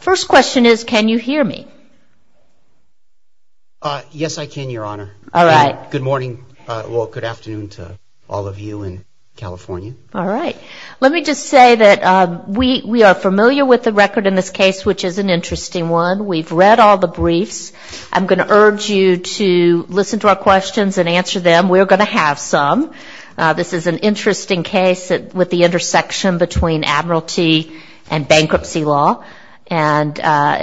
First question is, can you hear me? Yes, I can, Your Honor. All right. Good morning, well, good afternoon to all of you in California. All right. Let me just say that we are familiar with the record in this case, which is an interesting one. We've read all the briefs. I'm going to urge you to listen to our questions and answer them. We're going to have some. This is an interesting case with the intersection between Admiralty and bankruptcy law, and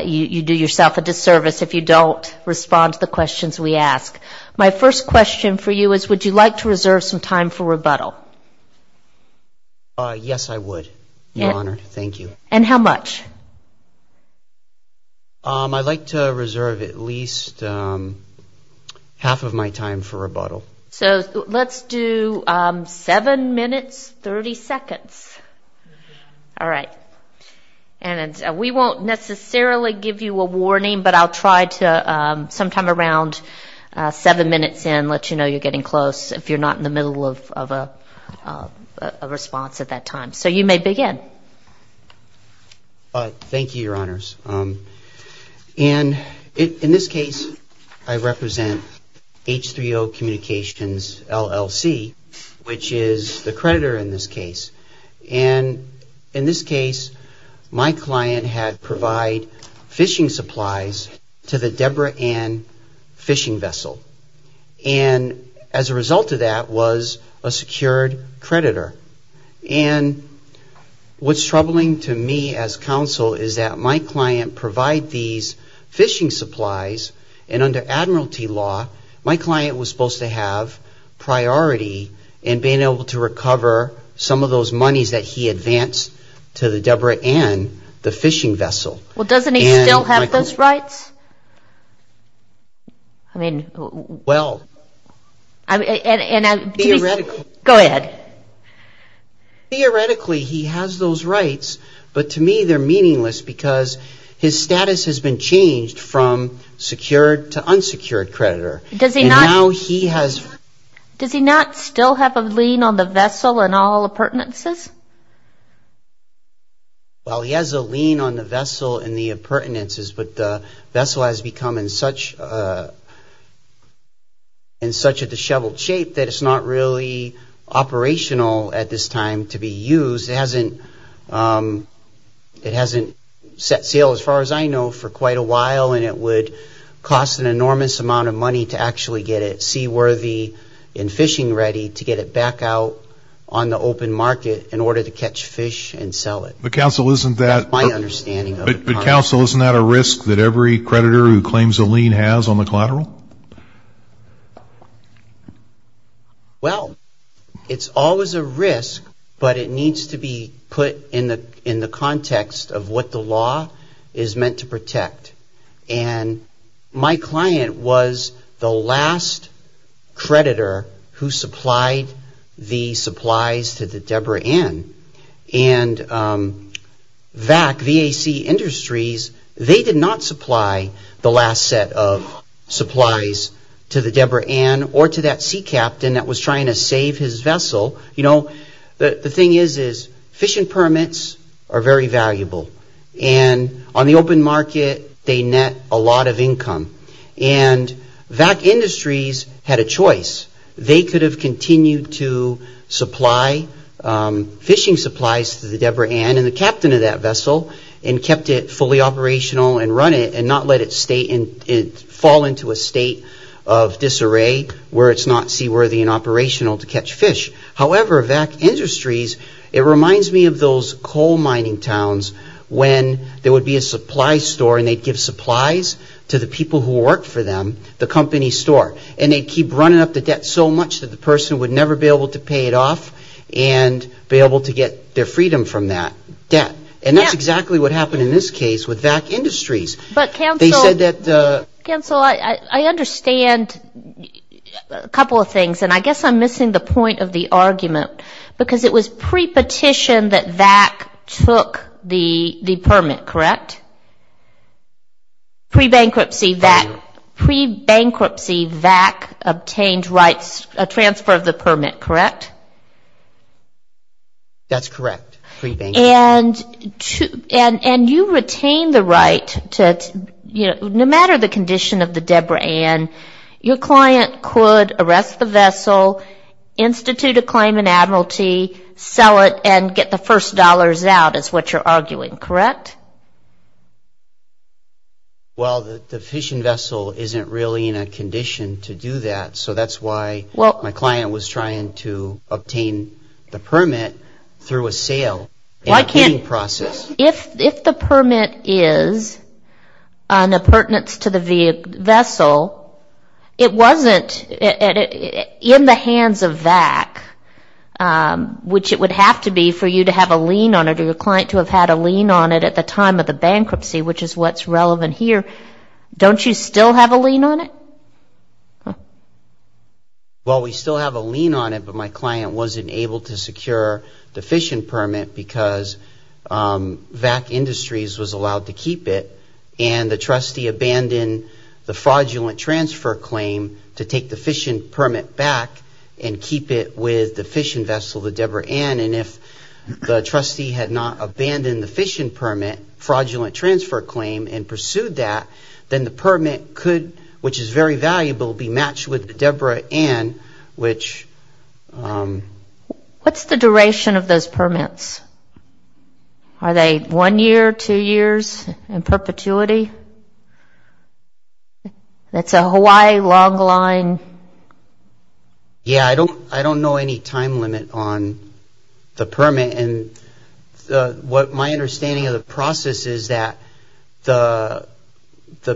you do yourself a disservice if you don't respond to the questions we ask. My first question for you is, would you like to reserve some time for rebuttal? Yes, I would, Your Honor. Thank you. And how much? I'd like to reserve at least half of my time for rebuttal. So let's do seven minutes, 30 seconds. All right. And we won't necessarily give you a warning, but I'll try to sometime around seven minutes in let you know you're getting close if you're not in the middle of a response at that time. So you may begin. Thank you, Your Honors. And in this case, I represent H3O Communications LLC, which is the creditor in this case. And in this case, my client had provided fishing supplies to the Deborah Ann fishing vessel. And as a result of that was a secured creditor. And what's troubling to me as counsel is that my client provide these fishing supplies, and under Admiralty law, my client was supposed to have priority in being able to recover some of those monies that he advanced to the Deborah Ann, the fishing vessel. Well, doesn't he still have those rights? I mean, well. Go ahead. Theoretically, he has those rights. But to me, they're meaningless because his status has been changed from secured to unsecured creditor. Does he not still have a lien on the vessel and all appurtenances? Well, he has a lien on the vessel and the appurtenances, but the vessel has become in such a disheveled shape that it's not really operational at this time to be used. It hasn't set sail, as far as I know, for quite a while, and it would cost an enormous amount of money to actually get it seaworthy and fishing ready to get it back out on the open market in order to catch fish and sell it. But, counsel, isn't that a risk that every creditor who claims a lien has on the collateral? Well, it's always a risk, but it needs to be put in the context of what the law is meant to protect. And my client was the last creditor who supplied the supplies to the Deborah Ann. And VAC, V-A-C Industries, they did not supply the last set of supplies to the Deborah Ann or to that sea captain that was trying to save his vessel. You know, the thing is, is fishing permits are very valuable. And on the open market, they net a lot of income. And VAC Industries had a choice. They could have continued to supply fishing supplies to the Deborah Ann and the captain of that vessel and kept it fully operational and run it and not let it fall into a state of disarray where it's not seaworthy and operational to catch fish. However, VAC Industries, it reminds me of those coal mining towns when there would be a supply store and they'd give supplies to the people who worked for them, the company store, and they'd keep running up the debt so much that the person would never be able to pay it off and be able to get their freedom from that debt. And that's exactly what happened in this case with VAC Industries. But, counsel, I understand a couple of things. And I guess I'm missing the point of the argument, because it was pre-petition that VAC took the permit, correct? Pre-bankruptcy VAC obtained rights, a transfer of the permit, correct? That's correct, pre-bankruptcy. And you retained the right to, you know, no matter the condition of the Deborah Ann, your client could arrest the vessel, institute a claim in Admiralty, sell it, and get the first dollars out is what you're arguing, correct? Well, the fishing vessel isn't really in a condition to do that, so that's why my client was trying to obtain the permit through a sale. If the permit is an appurtenance to the vessel, it wasn't in the hands of VAC, which it would have to be for you to have a lien on it or your client to have had a lien on it at the time of the bankruptcy, which is what's relevant here, don't you still have a lien on it? Well, we still have a lien on it, but my client wasn't able to secure the fishing permit because VAC Industries was allowed to keep it and the trustee abandoned the fraudulent transfer claim to take the fishing permit back and keep it with the fishing vessel, the Deborah Ann, and if the trustee had not abandoned the fishing permit, fraudulent transfer claim, and pursued that, then the permit could, which is very valuable, be matched with Deborah Ann, which... What's the duration of those permits? Are they one year, two years, in perpetuity? That's a Hawaii long line? Yeah, I don't know any time limit on the permit, and my understanding of the process is that the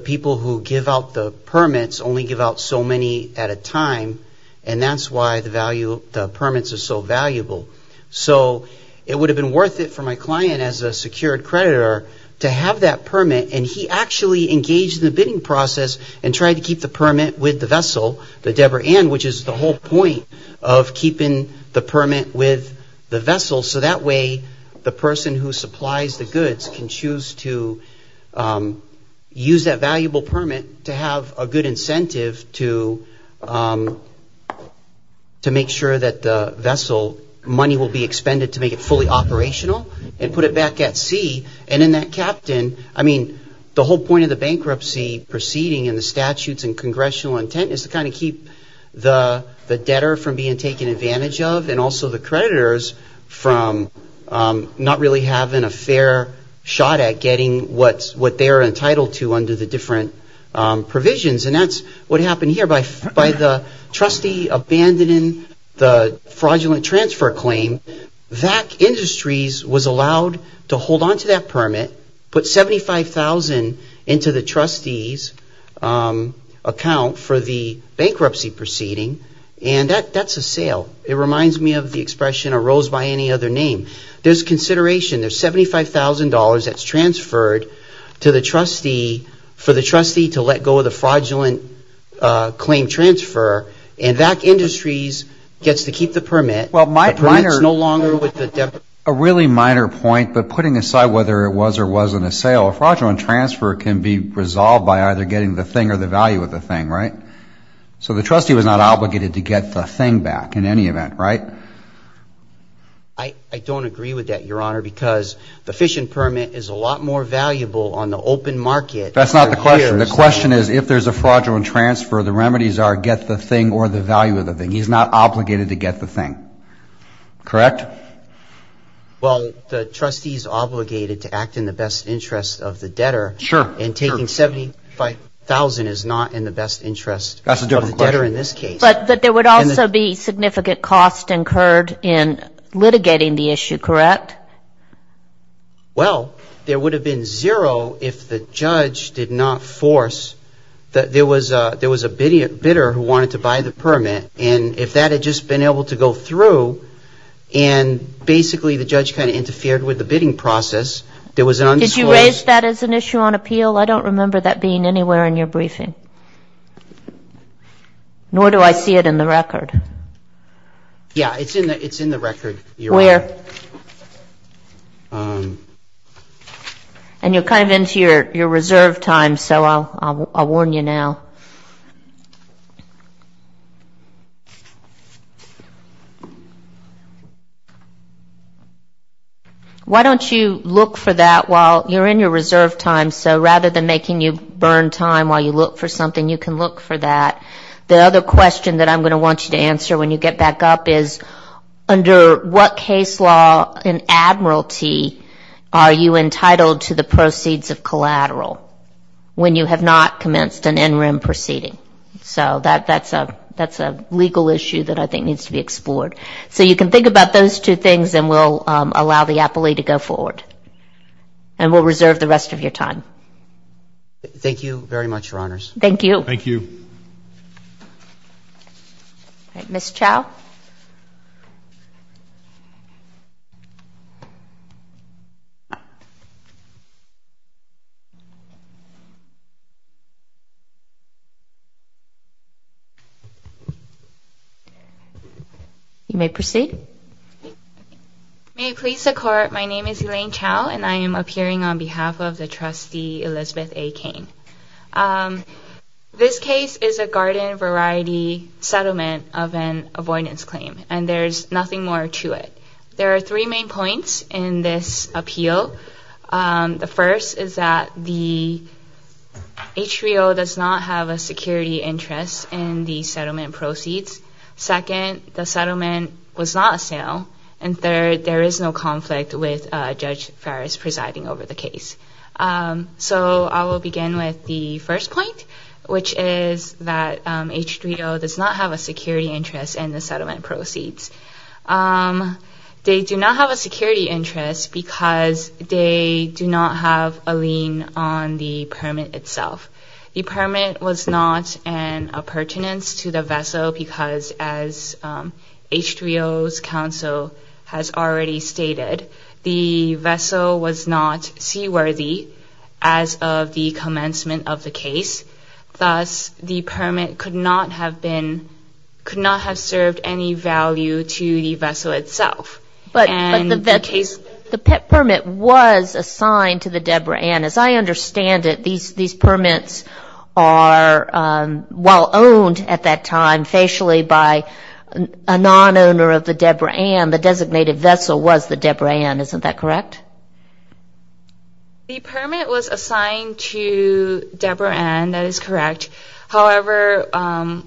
people who give out the permits only give out so many at a time, and that's why the permits are so valuable. So it would have been worth it for my client as a secured creditor to have that permit, and he actually engaged in the bidding process and tried to keep the permit with the vessel, the Deborah Ann, which is the whole point of keeping the permit with the vessel, so that way the person who supplies the goods can choose to use that valuable permit to have a good incentive to make sure that the vessel, money will be expended to make it fully operational, and put it back at sea, and then that captain, I mean, the whole point of the bankruptcy proceeding and the statutes and congressional intent is to kind of keep the debtor from being taken advantage of, and also the creditors from not really having a fair shot at getting what they're entitled to under the different provisions, and that's what happened here. By the trustee abandoning the fraudulent transfer claim, VAC Industries was allowed to hold onto that permit, put $75,000 into the trustee's account for the bankruptcy proceeding, and that's a sale. It reminds me of the expression arose by any other name. There's consideration, there's $75,000 that's transferred to the trustee for the trustee to let go of the fraudulent claim transfer, and VAC Industries gets to keep the permit. The permit's no longer with the debtor. A really minor point, but putting aside whether it was or wasn't a sale, a fraudulent transfer can be resolved by either getting the thing or the value of the thing, right? So the trustee was not obligated to get the thing back in any event, right? I don't agree with that, Your Honor, because the fission permit is a lot more valuable on the open market. That's not the question. The question is if there's a fraudulent transfer, the remedies are get the thing or the value of the thing. He's not obligated to get the thing, correct? Well, the trustee's obligated to act in the best interest of the debtor. Sure. And taking $75,000 is not in the best interest of the debtor in this case. But there would also be significant cost incurred in litigating the issue, correct? Well, there would have been zero if the judge did not force. There was a bidder who wanted to buy the permit, and if that had just been able to go through and basically the judge kind of interfered with the bidding process, there was an unsolicited Did you raise that as an issue on appeal? I don't remember that being anywhere in your briefing. Okay. Nor do I see it in the record. Yeah, it's in the record. Where? And you're kind of into your reserve time, so I'll warn you now. Why don't you look for that while you're in your reserve time? So rather than making you burn time while you look for something, you can look for that. The other question that I'm going to want you to answer when you get back up is, under what case law in Admiralty are you entitled to the proceeds of collateral when you have not commenced an NRIM proceeding? So that's a legal issue that I think needs to be explored. So you can think about those two things, and we'll allow the appellee to go forward. And we'll reserve the rest of your time. Thank you very much, Your Honors. Thank you. Thank you. Ms. Chau. You may proceed. May it please the Court, my name is Elaine Chau, and I am appearing on behalf of the trustee, Elizabeth A. Cain. This case is a garden variety settlement of an avoidance claim, and there's nothing more to it. There are three main points in this appeal. The first is that the HVO does not have a security interest in the settlement proceeds. Second, the settlement was not a sale. And third, there is no conflict with Judge Farris presiding over the case. So I will begin with the first point, which is that HVO does not have a security interest in the settlement proceeds. They do not have a security interest because they do not have a lien on the permit itself. The permit was not an appurtenance to the vessel because, as HVO's counsel has already stated, the vessel was not seaworthy as of the commencement of the case. Thus, the permit could not have served any value to the vessel itself. But the permit was assigned to the Deborah Ann. As I understand it, these permits are, while owned at that time facially by a non-owner of the Deborah Ann, the designated vessel was the Deborah Ann. Isn't that correct? The permit was assigned to Deborah Ann. That is correct. However,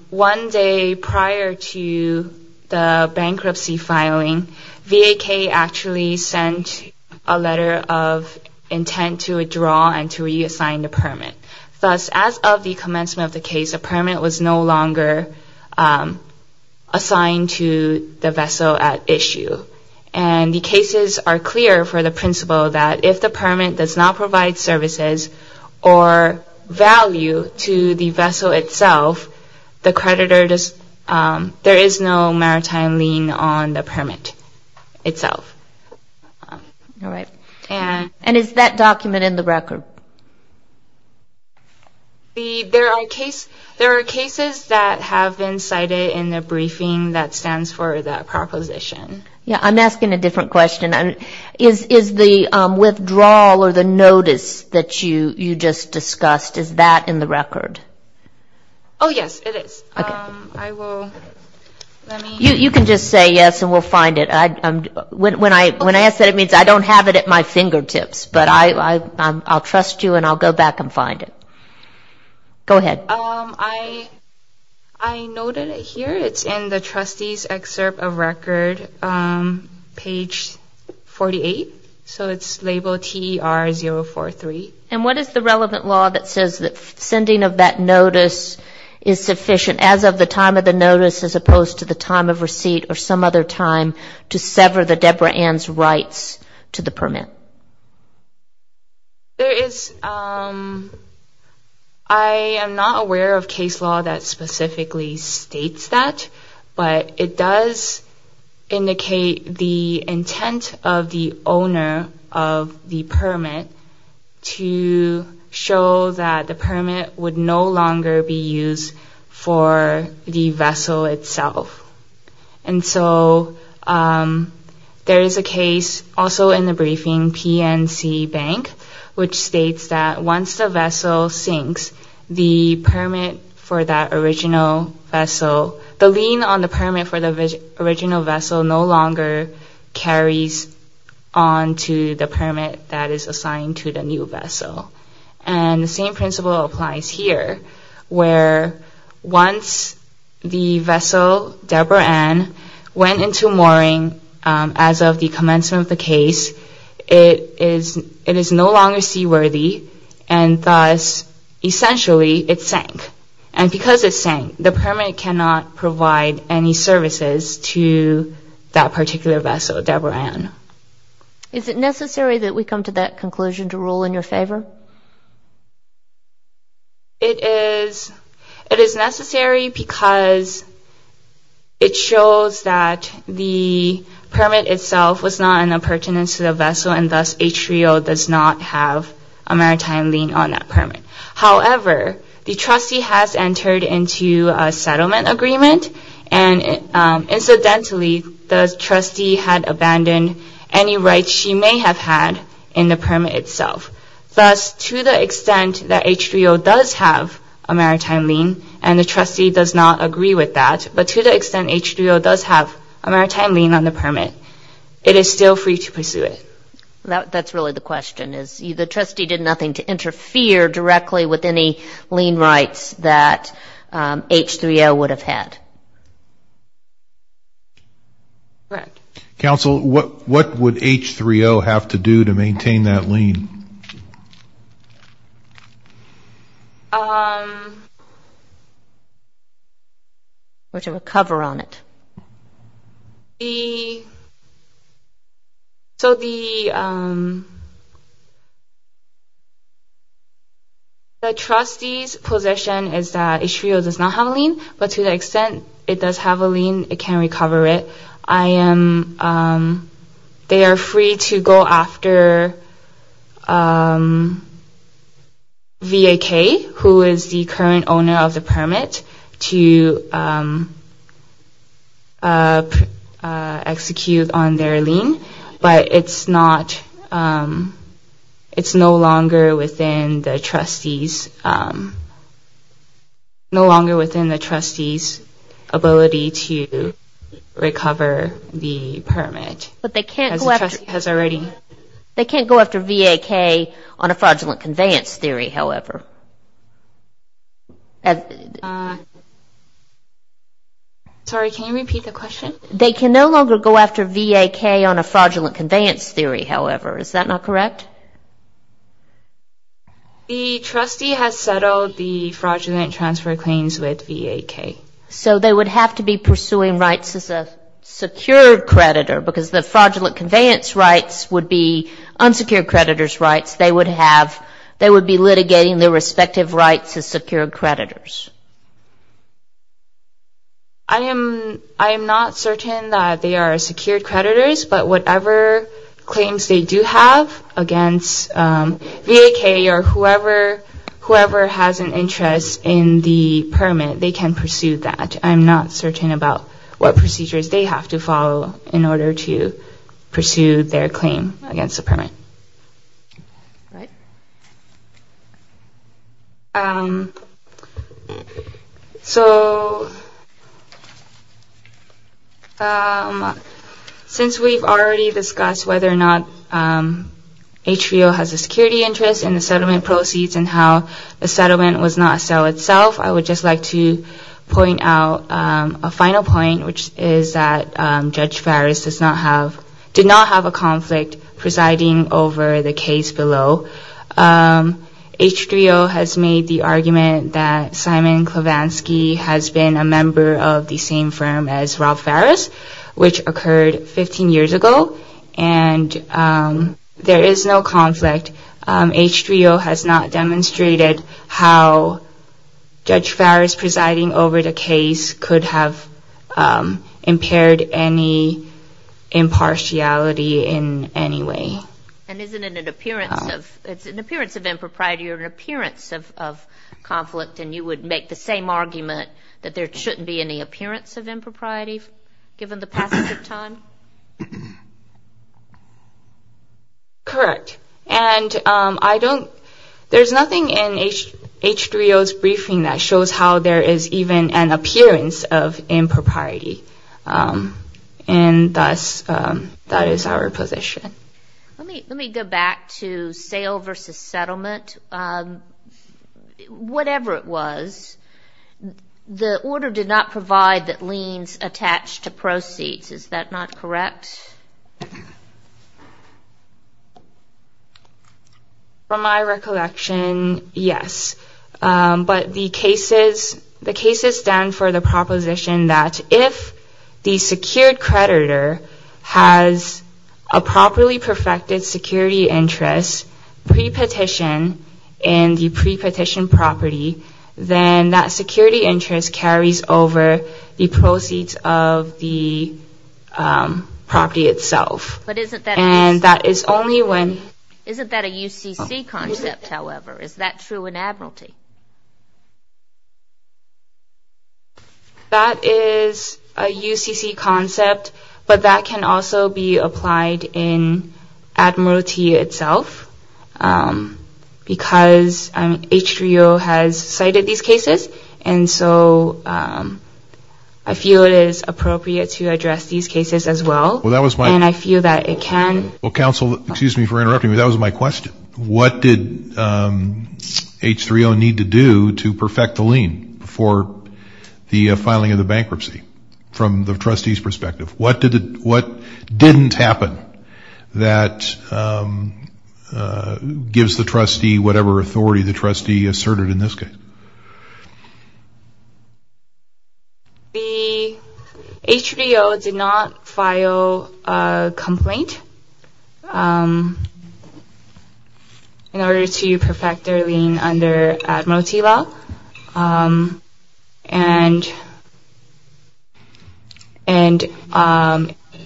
one day prior to the bankruptcy filing, VAK actually sent a letter of intent to withdraw and to reassign the permit. Thus, as of the commencement of the case, the permit was no longer assigned to the vessel at issue. The cases are clear for the principle that if the permit does not provide services or value to the vessel itself, the creditor, there is no maritime lien on the permit itself. There are cases that have been cited in the briefing that stands for the proposition. Yeah, I'm asking a different question. Is the withdrawal or the notice that you just discussed, is that in the record? Oh, yes, it is. Okay. I will, let me. You can just say yes and we'll find it. When I ask that, it means I don't have it at my fingertips. But I'll trust you and I'll go back and find it. Go ahead. I noted it here. It's in the trustee's excerpt of record, page 48. So it's labeled TER-043. And what is the relevant law that says that sending of that notice is sufficient as of the time of the notice as opposed to the time of receipt or some other time to sever the Deborah Ann's rights to the permit? There is, I am not aware of case law that specifically states that, but it does indicate the intent of the owner of the permit to show that the permit would no longer be used for the vessel itself. And so there is a case also in the briefing, PNC Bank, which states that once the vessel sinks, the permit for that original vessel, the lien on the permit for the original vessel no longer carries on to the permit that is assigned to the new vessel. And the same principle applies here where once the vessel Deborah Ann went into mooring as of the commencement of the case, it is no longer seaworthy and thus essentially it sank. And because it sank, the permit cannot provide any services to that particular vessel, Deborah Ann. Is it necessary that we come to that conclusion to rule in your favor? It is necessary because it shows that the permit itself was not in a pertinence to the vessel and thus ATRIO does not have a maritime lien on that permit. However, the trustee has entered into a settlement agreement and incidentally the trustee had abandoned any rights she may have had in the permit itself. Thus, to the extent that ATRIO does have a maritime lien and the trustee does not agree with that, but to the extent ATRIO does have a maritime lien on the permit, it is still free to pursue it. That's really the question. The trustee did nothing to interfere directly with any lien rights that H3O would have had. Correct. Counsel, what would H3O have to do to maintain that lien? Or to recover on it. The trustee's position is that H3O does not have a lien, but to the extent it does have a lien, it can recover it. They are free to go after VAK, who is the current owner of the permit, to execute on their lien, but it's no longer within the trustee's ability to recover the permit. They can't go after VAK on a fraudulent conveyance theory, however. Sorry, can you repeat the question? They can no longer go after VAK on a fraudulent conveyance theory, however. Is that not correct? The trustee has settled the fraudulent transfer claims with VAK. So they would have to be pursuing rights as a secured creditor because the fraudulent conveyance rights would be unsecured creditor's rights. They would be litigating their respective rights as secured creditors. I am not certain that they are secured creditors, but whatever claims they do have against VAK, or whoever has an interest in the permit, they can pursue that. I'm not certain about what procedures they have to follow in order to pursue their claim against the permit. All right. So since we've already discussed whether or not HVO has a security interest in the settlement proceeds and how the settlement was not a sale itself, I would just like to point out a final point, which is that Judge Farris did not have a conflict presiding over the case below. HVO has made the argument that Simon Klevansky has been a member of the same firm as Rob Farris, which occurred 15 years ago, and there is no conflict. HVO has not demonstrated how Judge Farris presiding over the case could have impaired any impartiality in any way. And isn't it an appearance of impropriety or an appearance of conflict, and you would make the same argument that there shouldn't be any appearance of impropriety, given the passage of time? Correct. And there's nothing in HVO's briefing that shows how there is even an appearance of impropriety, and thus that is our position. Let me go back to sale versus settlement. Whatever it was, the order did not provide that liens attach to proceeds. Is that not correct? From my recollection, yes. But the cases stand for the proposition that if the secured creditor has a properly perfected security interest pre-petition in the pre-petition property, then that security interest carries over the proceeds of the property itself. But isn't that a UCC concept, however? Is that true in Admiralty? That is a UCC concept, but that can also be applied in Admiralty itself, because H3O has cited these cases, and so I feel it is appropriate to address these cases as well. And I feel that it can. What did H3O need to do to perfect the lien for the filing of the bankruptcy, from the trustee's perspective? What didn't happen that gives the trustee whatever authority the trustee asserted in this case? The H3O did not file a complaint in order to perfect their lien under Admiralty law, and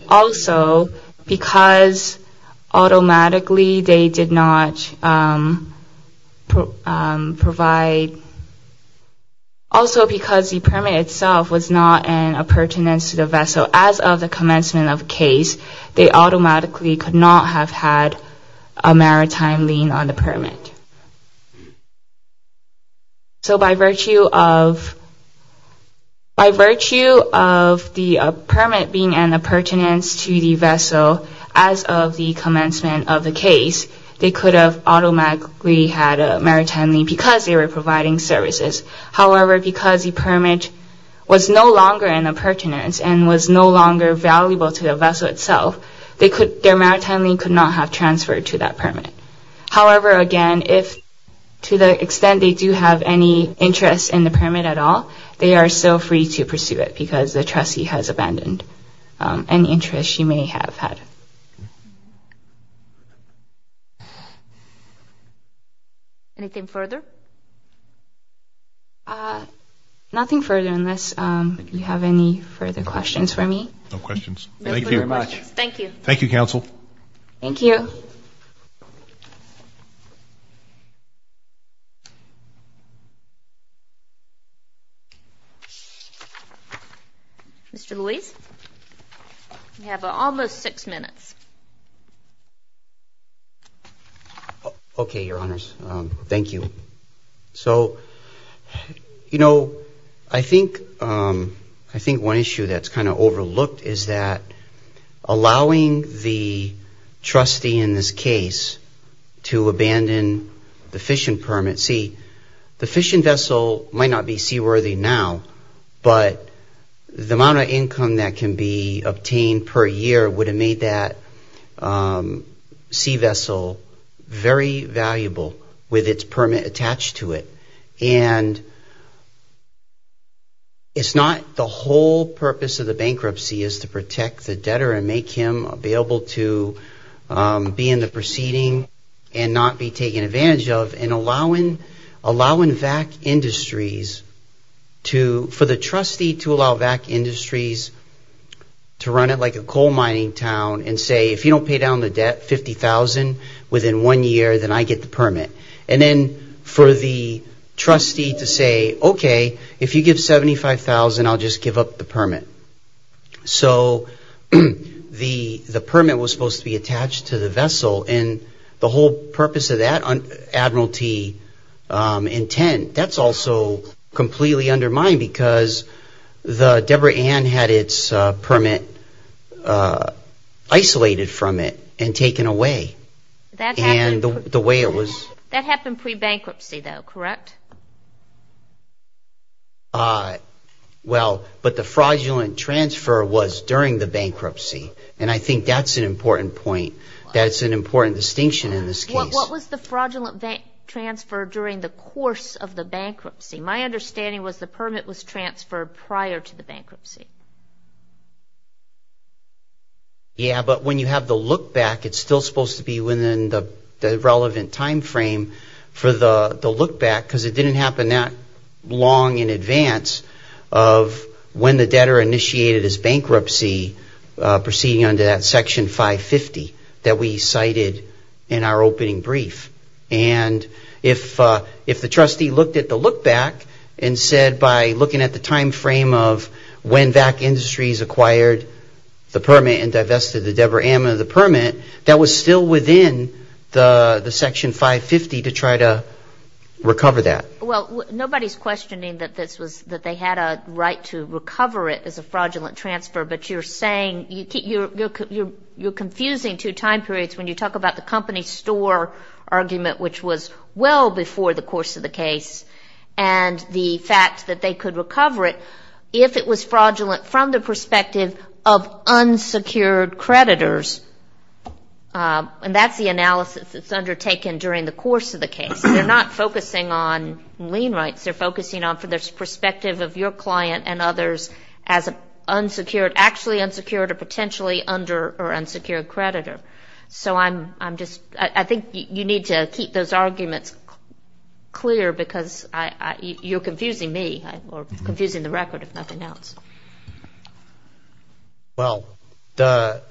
also because automatically they did not provide, also because the permit itself was not a pertinence to the vessel, as of the commencement of the case, they automatically could not have had a maritime lien on the permit. So by virtue of the permit being a pertinence to the vessel as of the commencement of the case, they could have automatically had a maritime lien because they were providing services. However, because the permit was no longer a pertinence and was no longer valuable to the vessel itself, their maritime lien could not have transferred to that permit. So if you have any interest in the permit at all, they are still free to pursue it because the trustee has abandoned any interest you may have had. Anything further? Nothing further, unless you have any further questions for me. No questions. Mr. Lewis, you have almost six minutes. Okay, Your Honors, thank you. So, you know, I think one issue that's kind of overlooked is that allowing the trustee in this case to abandon the fishing permit, see, the fishing vessel might not be seaworthy now, but the amount of income that can be obtained per year would have made that sea vessel very valuable with its permit attached to it. And it's not the whole purpose of the bankruptcy is to protect the debtor and make him be able to be in the proceeding and not be taken advantage of. And allowing VAC Industries to, for the trustee to allow VAC Industries to run it like a coal mining town and say, if you don't pay down the debt, $50,000 within one year, then I get the permit. And then for the trustee to say, okay, if you give $75,000, I'll just give up the permit. So the permit was supposed to be attached to the vessel and the whole purpose of that admiralty intent, that's also completely undermined because the permit was taken away from it and taken away. And the way it was. That happened pre-bankruptcy though, correct? Well, but the fraudulent transfer was during the bankruptcy. And I think that's an important point. That's an important distinction in this case. What was the fraudulent transfer during the course of the bankruptcy? My understanding was the permit was transferred prior to the bankruptcy. Yeah, but when you have the look back, it's still supposed to be within the relevant time frame for the look back because it didn't happen that long in advance of when the debtor initiated his bankruptcy proceeding under that Section 550 that we cited in our opening brief. And if the trustee looked at the look back and said by looking at the time frame of when VAC Industries acquired the permit and divested the debtor out of the permit, that was still within the Section 550 to try to recover that. Well, nobody's questioning that they had a right to recover it as a fraudulent transfer, but you're saying, you're confusing two time frames, the argument which was well before the course of the case and the fact that they could recover it if it was fraudulent from the perspective of unsecured creditors. And that's the analysis that's undertaken during the course of the case. They're not focusing on lien rights. They're focusing on from the perspective of your client and others as an unsecured, actually unsecured or potentially under or unsecured creditor. I'm going to keep those arguments clear because you're confusing me or confusing the record, if nothing else. Well, the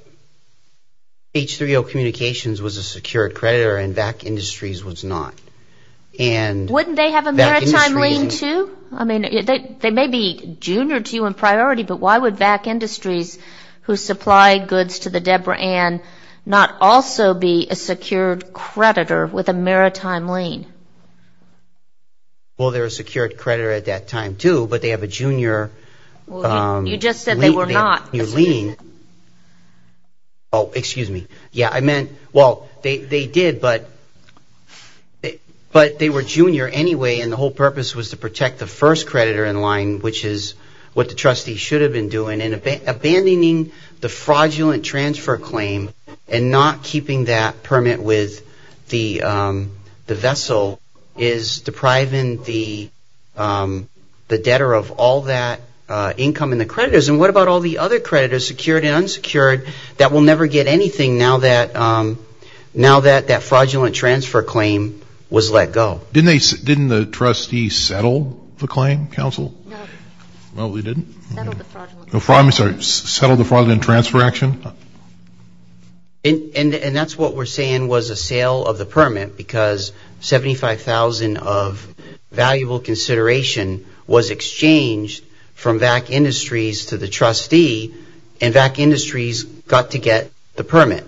H3O Communications was a secured creditor and VAC Industries was not. Wouldn't they have a maritime lien, too? I mean, they may be junior to you in priority, but why would VAC Industries who supply goods to the Deborah Ann not also be a secured creditor with a maritime lien? Well, they're a secured creditor at that time, too, but they have a junior lien. Oh, excuse me. Yeah, I meant, well, they did, but they were junior anyway and the whole purpose was to protect the first creditor in that transfer claim and not keeping that permit with the vessel is depriving the debtor of all that income in the creditors. And what about all the other creditors, secured and unsecured, that will never get anything now that that fraudulent transfer claim was let go? Didn't the trustee settle the claim, counsel? No. Settle the fraudulent transfer action. And that's what we're saying was a sale of the permit because 75,000 of valuable consideration was exchanged from VAC Industries to the trustee and VAC Industries got to get the permit.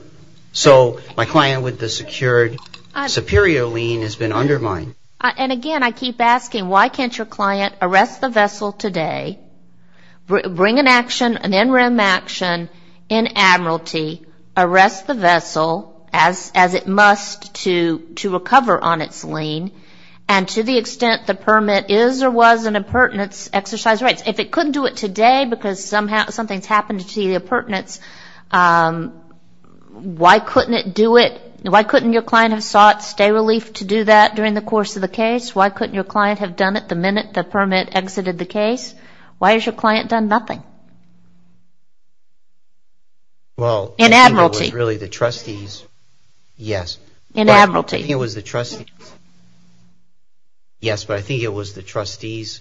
So my client with the secured superior lien has been undermined. And again, I keep asking, why can't your client arrest the vessel today, bring an action, an NREM action in admiralty, arrest the vessel as it must to recover on its lien, and to the extent the permit is or was an impertinence, exercise rights. If it couldn't do it today because something's happened to the impertinence, why can't you do it today? Why couldn't it do it? Why couldn't your client have sought stay relief to do that during the course of the case? Why couldn't your client have done it the minute the permit exited the case? Why has your client done nothing? In admiralty. In admiralty. Yes, but I think it was the trustee's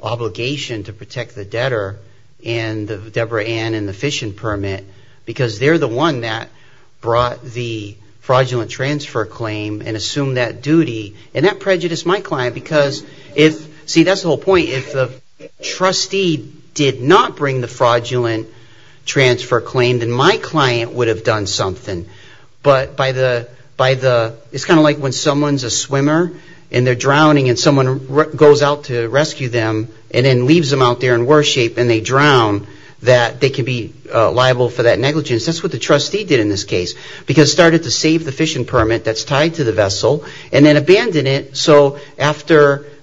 obligation to protect the debtor and the Deborah Ann and the fishing permit because they're the one that brought the fraudulent transfer claim and assumed that duty. And that prejudiced my client because if, see that's the whole point, if the trustee did not bring the fraudulent transfer claim, then my client would have done something. It's kind of like when someone's a swimmer and they're drowning and someone goes out to rescue them and then leaves them out there in worse shape and they drown, that they can be liable for that negligence. That's what the trustee did in this case because it started to save the fishing permit that's tied to the vessel and then abandon it. So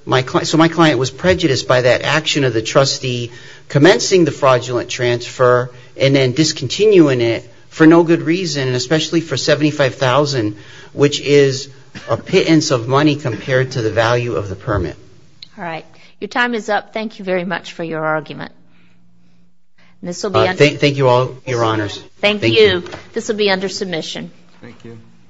my client was prejudiced by that action of the trustee commencing the fraudulent transfer and then discontinuing it for no good reason, especially for $75,000, which is a pittance of money compared to the value of the permit. All right, your time is up. Thank you very much for your argument. Thank you all, your honors.